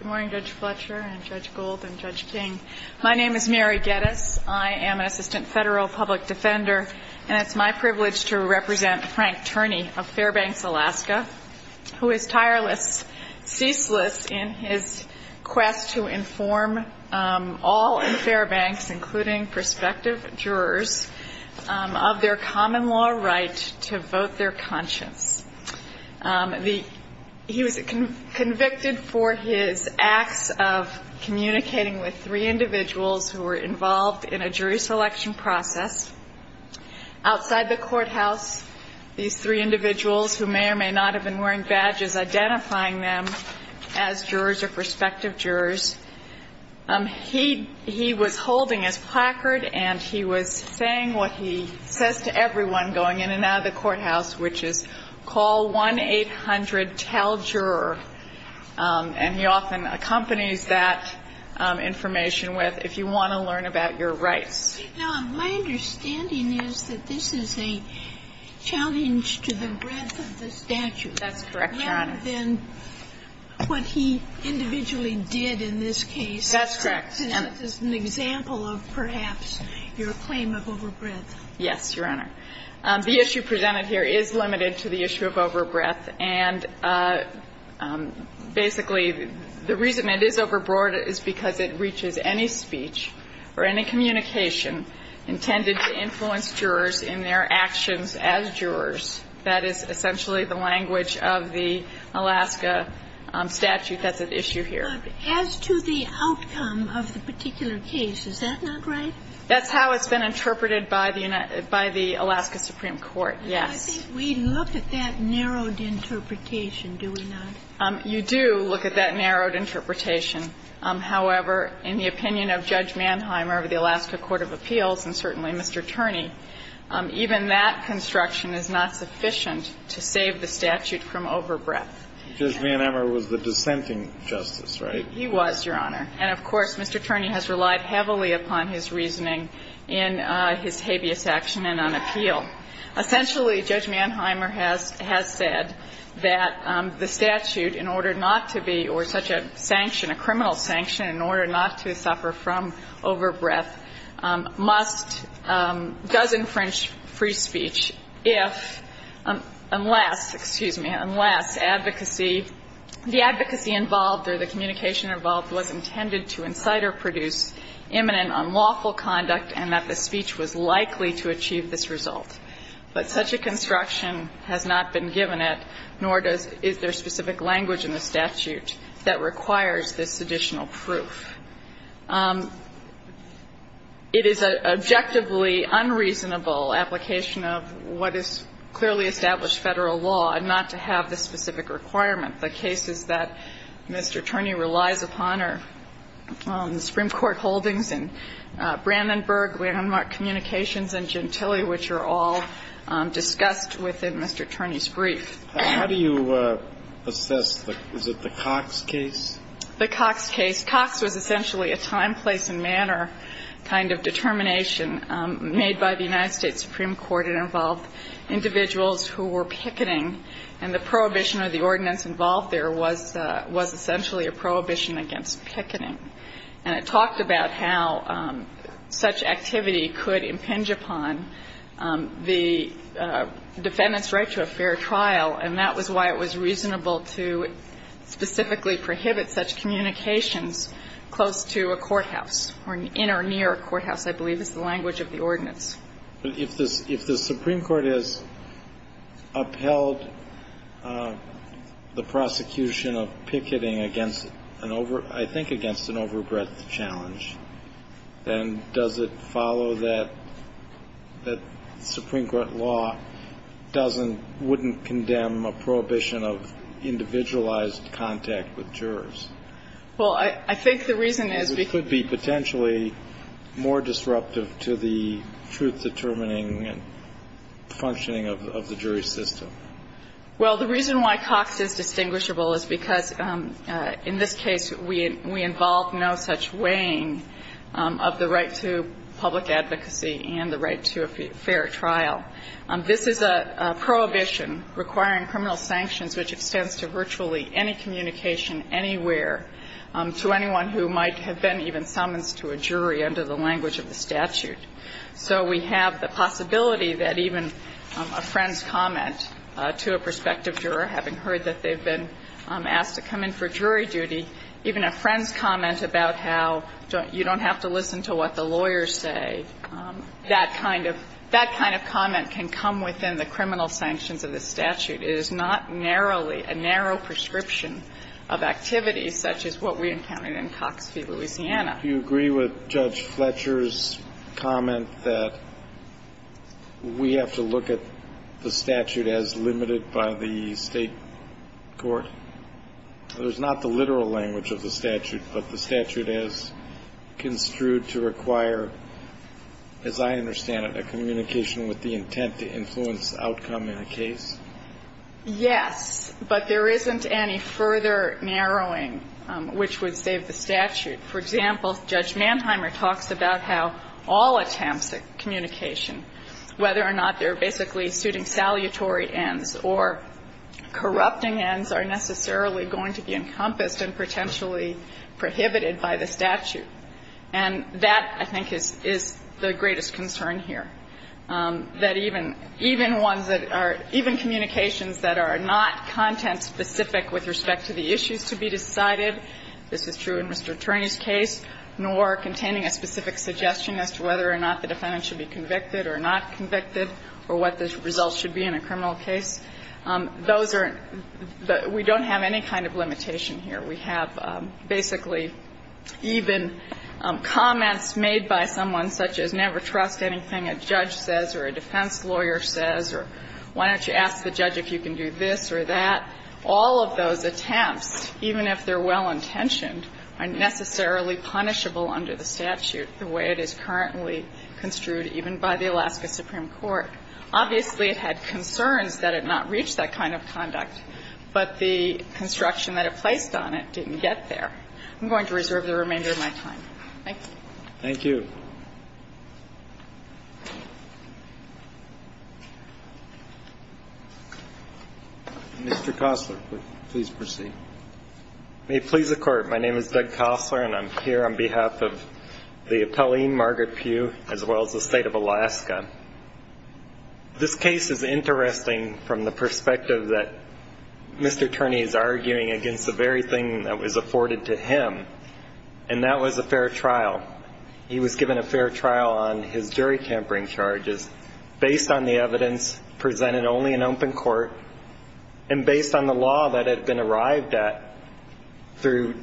Good morning Judge Fletcher and Judge Gold and Judge King. My name is Mary Geddes. I am an Assistant Federal Public Defender and it's my privilege to represent Frank Turney of Fairbanks, Alaska, who is tireless, ceaseless in his quest to inform all in Fairbanks, including prospective jurors, of their common law right to vote their conscience. He was convicted for his acts of communicating with three individuals who were involved in a jury selection process. Outside the courthouse, these three individuals who may or may not have been wearing badges, identifying them as jurors or prospective jurors. He was holding his placard and he was saying what he says to everyone going in and out of the courthouse, which is call 1-800-TELL-JUROR. And he often accompanies that information with, if you want to learn about your rights. Now, my understanding is that this is a challenge to the breadth of the statute. That's correct, Your Honor. Then what he individually did in this case. That's correct. Is an example of perhaps your claim of overbreadth. Yes, Your Honor. The issue presented here is limited to the issue of overbreadth. And basically the reason it is overbroad is because it reaches any speech or any communication intended to influence jurors in their actions as jurors. That is essentially the language of the Alaska statute that's at issue here. As to the outcome of the particular case, is that not right? That's how it's been interpreted by the Alaska Supreme Court, yes. I think we look at that narrowed interpretation, do we not? You do look at that narrowed interpretation. However, in the opinion of Judge Mannheimer of the Alaska Court of Appeals and certainly Mr. Turney, even that construction is not sufficient to save the statute from overbreadth. Judge Mannheimer was the dissenting justice, right? He was, Your Honor. And of course, Mr. Turney has relied heavily upon his reasoning in his habeas action and on appeal. Essentially, Judge Mannheimer has said that the statute, in order not to be or such a sanction, a criminal sanction, in order not to suffer from overbreadth, must, does infringe free speech if, unless, excuse me, unless advocacy, the advocacy involved or the communication involved was intended to incite or produce imminent unlawful conduct and that the speech was likely to achieve this result. But such a construction has not been given it, nor does, is there specific language in the statute that requires this additional proof. It is an objectively unreasonable application of what is clearly established Federal law and not to have the specific requirement. The cases that Mr. Turney relies upon are the Supreme Court holdings and Brandenburg landmark communications and Gentile, which are all discussed within Mr. Turney's brief. How do you assess the, is it the Cox case? The Cox case. Cox was essentially a time, place and manner kind of determination made by the United States Supreme Court. It involved individuals who were picketing, and the prohibition or the ordinance involved there was essentially a prohibition against picketing. And it talked about how such activity could impinge upon the defendant's right to a fair trial, and that was why it was reasonable to specifically prohibit such communications close to a courthouse, or in or near a courthouse, I believe is the language of the ordinance. But if this, if the Supreme Court has upheld the prosecution of picketing against an over, I think against an overbreadth challenge, then does it follow that the Supreme Court law doesn't, wouldn't condemn a prohibition of individualized contact with jurors? Well, I think the reason is because. It could be potentially more disruptive to the truth-determining and functioning of the jury system. Well, the reason why Cox is distinguishable is because in this case we involved no such weighing of the right to public advocacy and the right to a fair trial. This is a prohibition requiring criminal sanctions which extends to virtually any communication anywhere to anyone who might have been even summonsed to a jury under the language of the statute. So we have the possibility that even a friend's comment to a prospective juror, having heard that they've been asked to come in for jury duty, even a friend's comment about how you don't have to listen to what the lawyers say, that kind of, that kind of comment can come within the criminal sanctions of the statute. It is not narrowly, a narrow prescription of activities such as what we encountered in Cox v. Louisiana. Do you agree with Judge Fletcher's comment that we have to look at the statute as limited by the State court? There's not the literal language of the statute, but the statute is construed to require, as I understand it, a communication with the intent to influence outcome in a case? Yes. But there isn't any further narrowing which would save the statute. For example, Judge Manheimer talks about how all attempts at communication, whether or not they're basically suiting salutary ends or corrupting ends are necessary going to be encompassed and potentially prohibited by the statute. And that, I think, is the greatest concern here. That even ones that are, even communications that are not content-specific with respect to the issues to be decided, this is true in Mr. Turney's case, nor containing a specific suggestion as to whether or not the defendant should be convicted or not convicted or what the results should be in a criminal case. Those are the — we don't have any kind of limitation here. We have basically even comments made by someone such as never trust anything a judge says or a defense lawyer says or why don't you ask the judge if you can do this or that. All of those attempts, even if they're well-intentioned, are necessarily punishable under the statute the way it is currently construed even by the Alaska Supreme Court. Obviously, it had concerns that it not reach that kind of conduct, but the construction that it placed on it didn't get there. I'm going to reserve the remainder of my time. Thank you. Thank you. Mr. Kossler, please proceed. May it please the Court. My name is Doug Kossler, and I'm here on behalf of the appellee, Margaret Pugh, as well as the State of Alaska. This case is interesting from the perspective that Mr. Turney is arguing against the very thing that was afforded to him, and that was a fair trial. He was given a fair trial on his jury tampering charges based on the evidence presented only in open court and based on the law that had been arrived at through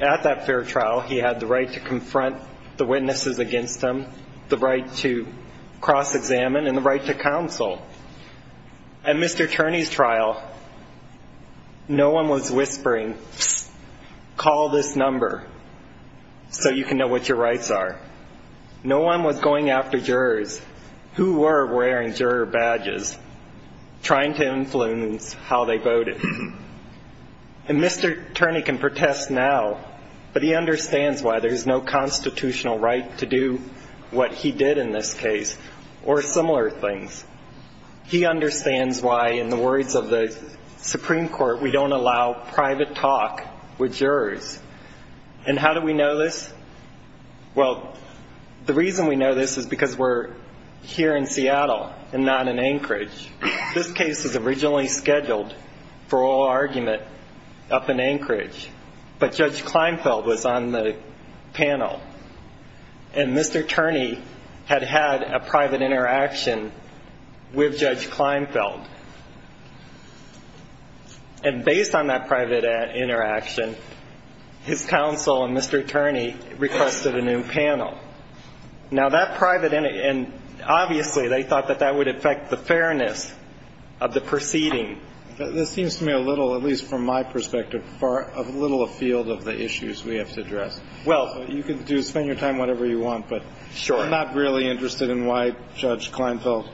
At that fair trial, he had the right to confront the witnesses against him, the right to cross-examine, and the right to counsel. At Mr. Turney's trial, no one was whispering, call this number so you can know what your rights are. No one was going after jurors who were wearing juror badges, trying to influence how they voted. And Mr. Turney can protest now, but he understands why there is no constitutional right to do what he did in this case or similar things. He understands why, in the words of the Supreme Court, we don't allow private talk with jurors. And how do we know this? Well, the reason we know this is because we're here in Seattle and not in Anchorage. This case was originally scheduled for oral argument up in Anchorage, but Judge Kleinfeld was on the panel, and Mr. Turney had had a private interaction with Judge Kleinfeld. And based on that private interaction, his counsel and Mr. Turney requested a new panel. Now, that private, and obviously they thought that that would affect the fairness of the proceeding. This seems to me a little, at least from my perspective, a little afield of the issues we have to address. You can spend your time, whatever you want, but I'm not really interested in why Judge Kleinfeld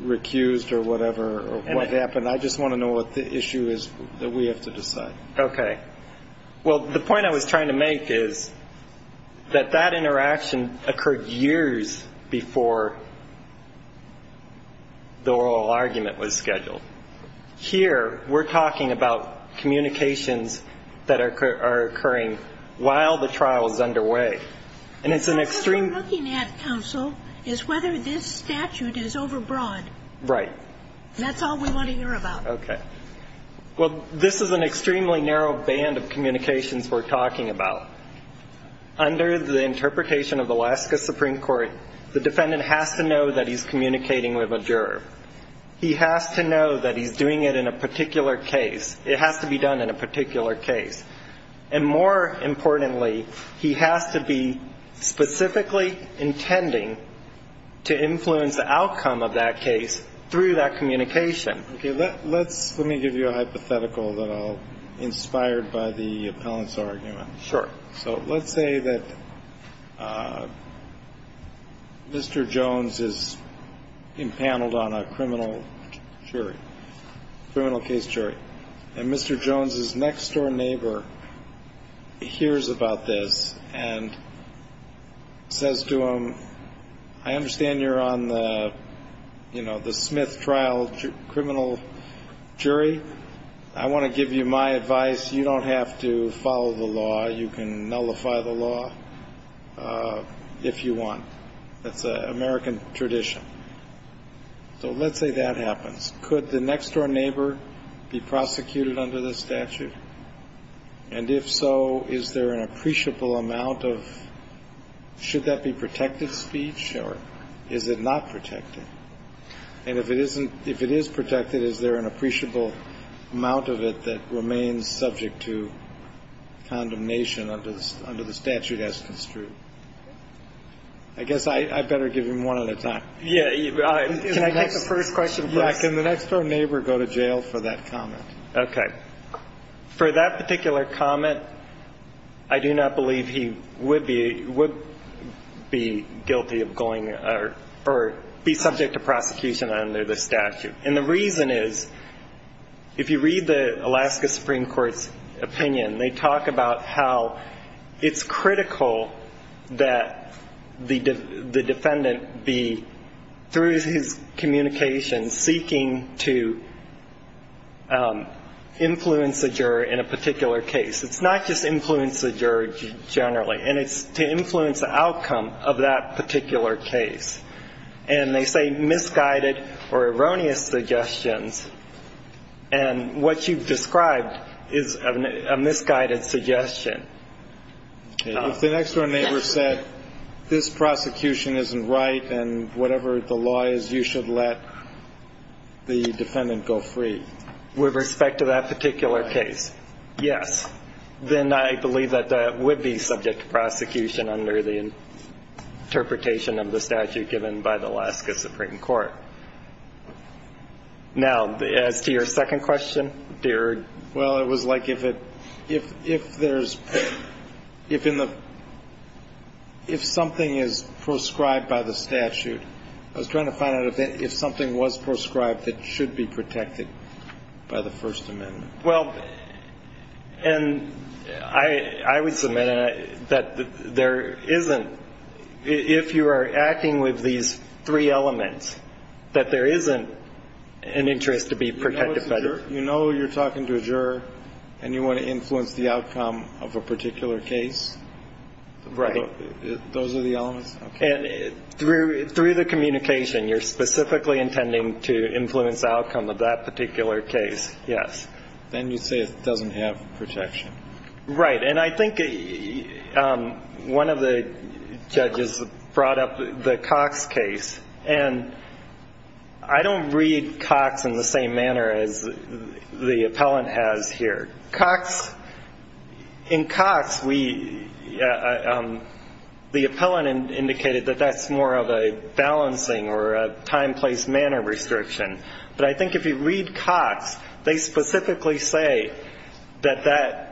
recused or whatever, or what happened. I just want to know what the issue is that we have to decide. Okay. Well, the point I was trying to make is that that interaction occurred years before the oral argument was scheduled. Here, we're talking about communications that are occurring while the trial is underway. And it's an extreme. What we're looking at, counsel, is whether this statute is overbroad. Right. That's all we want to hear about. Okay. Well, this is an extremely narrow band of communications we're talking about. Under the interpretation of Alaska Supreme Court, the defendant has to know that he's communicating with a juror. He has to know that he's doing it in a particular case. It has to be done in a particular case. And more importantly, he has to be specifically intending to influence the outcome of that case through that communication. Okay. Let me give you a hypothetical that I'll inspire by the appellant's argument. Sure. So let's say that Mr. Jones is empaneled on a criminal jury, criminal case jury, and Mr. Jones's next-door neighbor hears about this and says to him, I understand you're on the Smith trial criminal jury. I want to give you my advice. You don't have to follow the law. You can nullify the law if you want. That's an American tradition. So let's say that happens. Could the next-door neighbor be prosecuted under this statute? And if so, is there an appreciable amount of, should that be protected speech, or is it not protected? And if it isn't, if it is protected, is there an appreciable amount of it that remains subject to condemnation under the statute as construed? I guess I better give him one at a time. Yeah. Can I take the first question, please? Yeah. Can the next-door neighbor go to jail for that comment? Okay. For that particular comment, I do not believe he would be guilty of going or be subject to prosecution under the statute. And the reason is, if you read the Alaska Supreme Court's opinion, they talk about how it's critical that the defendant be, through his communication, seeking to influence the juror in a particular case. It's not just influence the juror generally. And it's to influence the outcome of that particular case. And they say misguided or erroneous suggestions. And what you've described is a misguided suggestion. If the next-door neighbor said, this prosecution isn't right, and whatever the law is, you should let the defendant go free. With respect to that particular case, yes. Then I believe that that would be subject to prosecution under the interpretation of the statute given by the Alaska Supreme Court. Now, as to your second question, dear? Well, it was like if there's, if in the, if something is proscribed by the statute. I was trying to find out if something was proscribed that should be protected by the First Amendment. Well, and I would submit that there isn't. If you are acting with these three elements, You know you're talking to a juror and you want to influence the outcome of a particular case? Right. Those are the elements? Through the communication, you're specifically intending to influence the outcome of that particular case, yes. Then you say it doesn't have protection. Right. And I think one of the judges brought up the Cox case. And I don't read Cox in the same manner as the appellant has here. Cox, in Cox, we, the appellant indicated that that's more of a balancing or a time-placed manner restriction. But I think if you read Cox, they specifically say that that,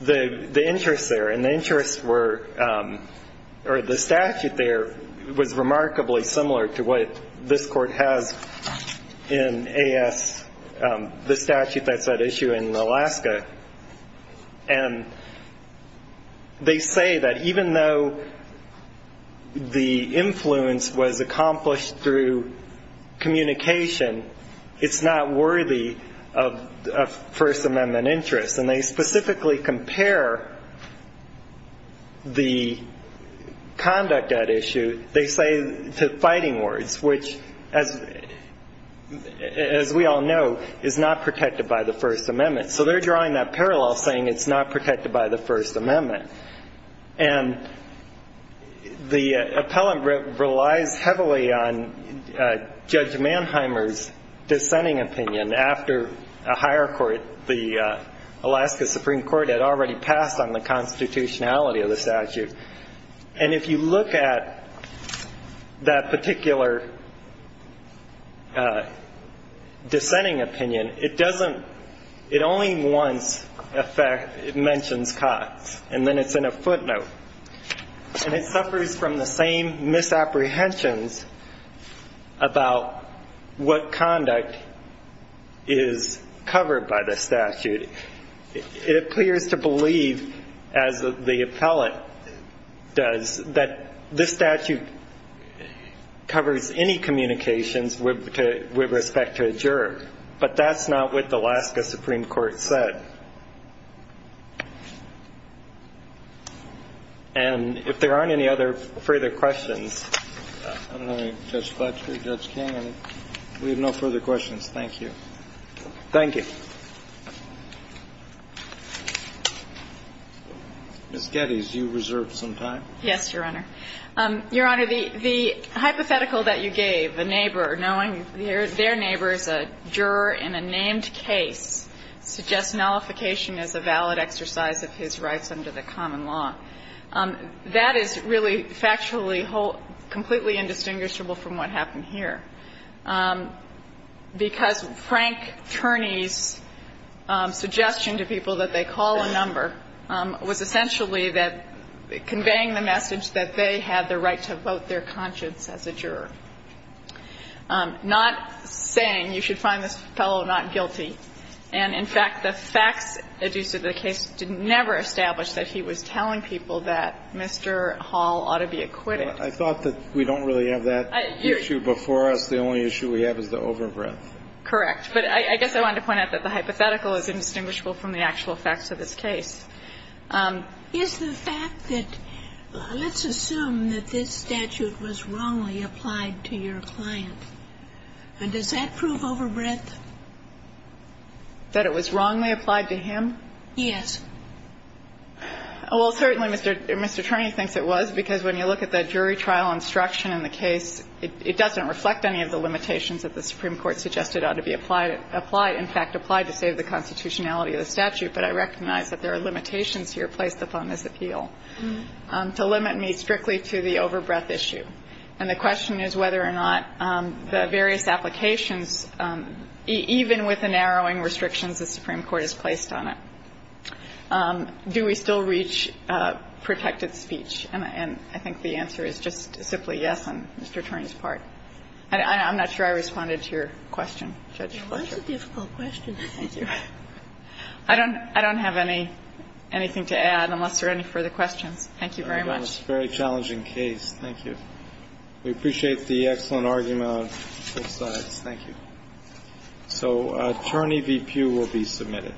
the interest there, and the interest were, or the statute there was remarkably similar to what this court has in AS, the statute that's at issue in Alaska. And they say that even though the influence was accomplished through communication, it's not worthy of First Amendment interest. And they specifically compare the conduct at issue, they say, to fighting words, which, as we all know, is not protected by the First Amendment. So they're drawing that parallel, saying it's not protected by the First Amendment. And the appellant relies heavily on Judge Manheimer's dissenting opinion. After a higher court, the Alaska Supreme Court had already passed on the constitutionality of the statute. And if you look at that particular dissenting opinion, it doesn't, it only once mentions Cox, and then it's in a footnote. And it suffers from the same misapprehensions about what conduct is covered by the statute. It appears to believe, as the appellant does, that this statute covers any communications with respect to a juror. But that's not what the Alaska Supreme Court said. And if there aren't any other further questions. I don't know, Judge Fletcher, Judge King, we have no further questions. Thank you. Thank you. Ms. Geddes, you reserved some time. Yes, Your Honor. Your Honor, the hypothetical that you gave, the neighbor knowing their neighbor is a juror in a named case, suggests nullification as a valid exercise of his rights under the common law. That is really factually completely indistinguishable from what happened here. Because Frank Turney's suggestion to people that they call a number was essentially conveying the message that they had the right to vote their conscience as a juror, not saying you should find this fellow not guilty. And, in fact, the facts adduced to the case did never establish that he was telling people that Mr. Hall ought to be acquitted. Well, I thought that we don't really have that issue before us. The only issue we have is the overbreadth. Correct. But I guess I wanted to point out that the hypothetical is indistinguishable from the actual facts of this case. Is the fact that, let's assume that this statute was wrongly applied to your client, and does that prove overbreadth? That it was wrongly applied to him? Yes. Well, certainly, Mr. Turney thinks it was, because when you look at the jury trial instruction in the case, it doesn't reflect any of the limitations that the Supreme Court has placed on the constitutionality of the statute. But I recognize that there are limitations here placed upon this appeal to limit me strictly to the overbreadth issue. And the question is whether or not the various applications, even with the narrowing restrictions the Supreme Court has placed on it, do we still reach protected speech? And I think the answer is just simply yes on Mr. Turney's part. I'm not sure I responded to your question, Judge Fletcher. It was a difficult question. Thank you. I don't have anything to add unless there are any further questions. Thank you very much. Very challenging case. Thank you. We appreciate the excellent argument on both sides. Thank you. So, Turney v. Pugh will be submitted.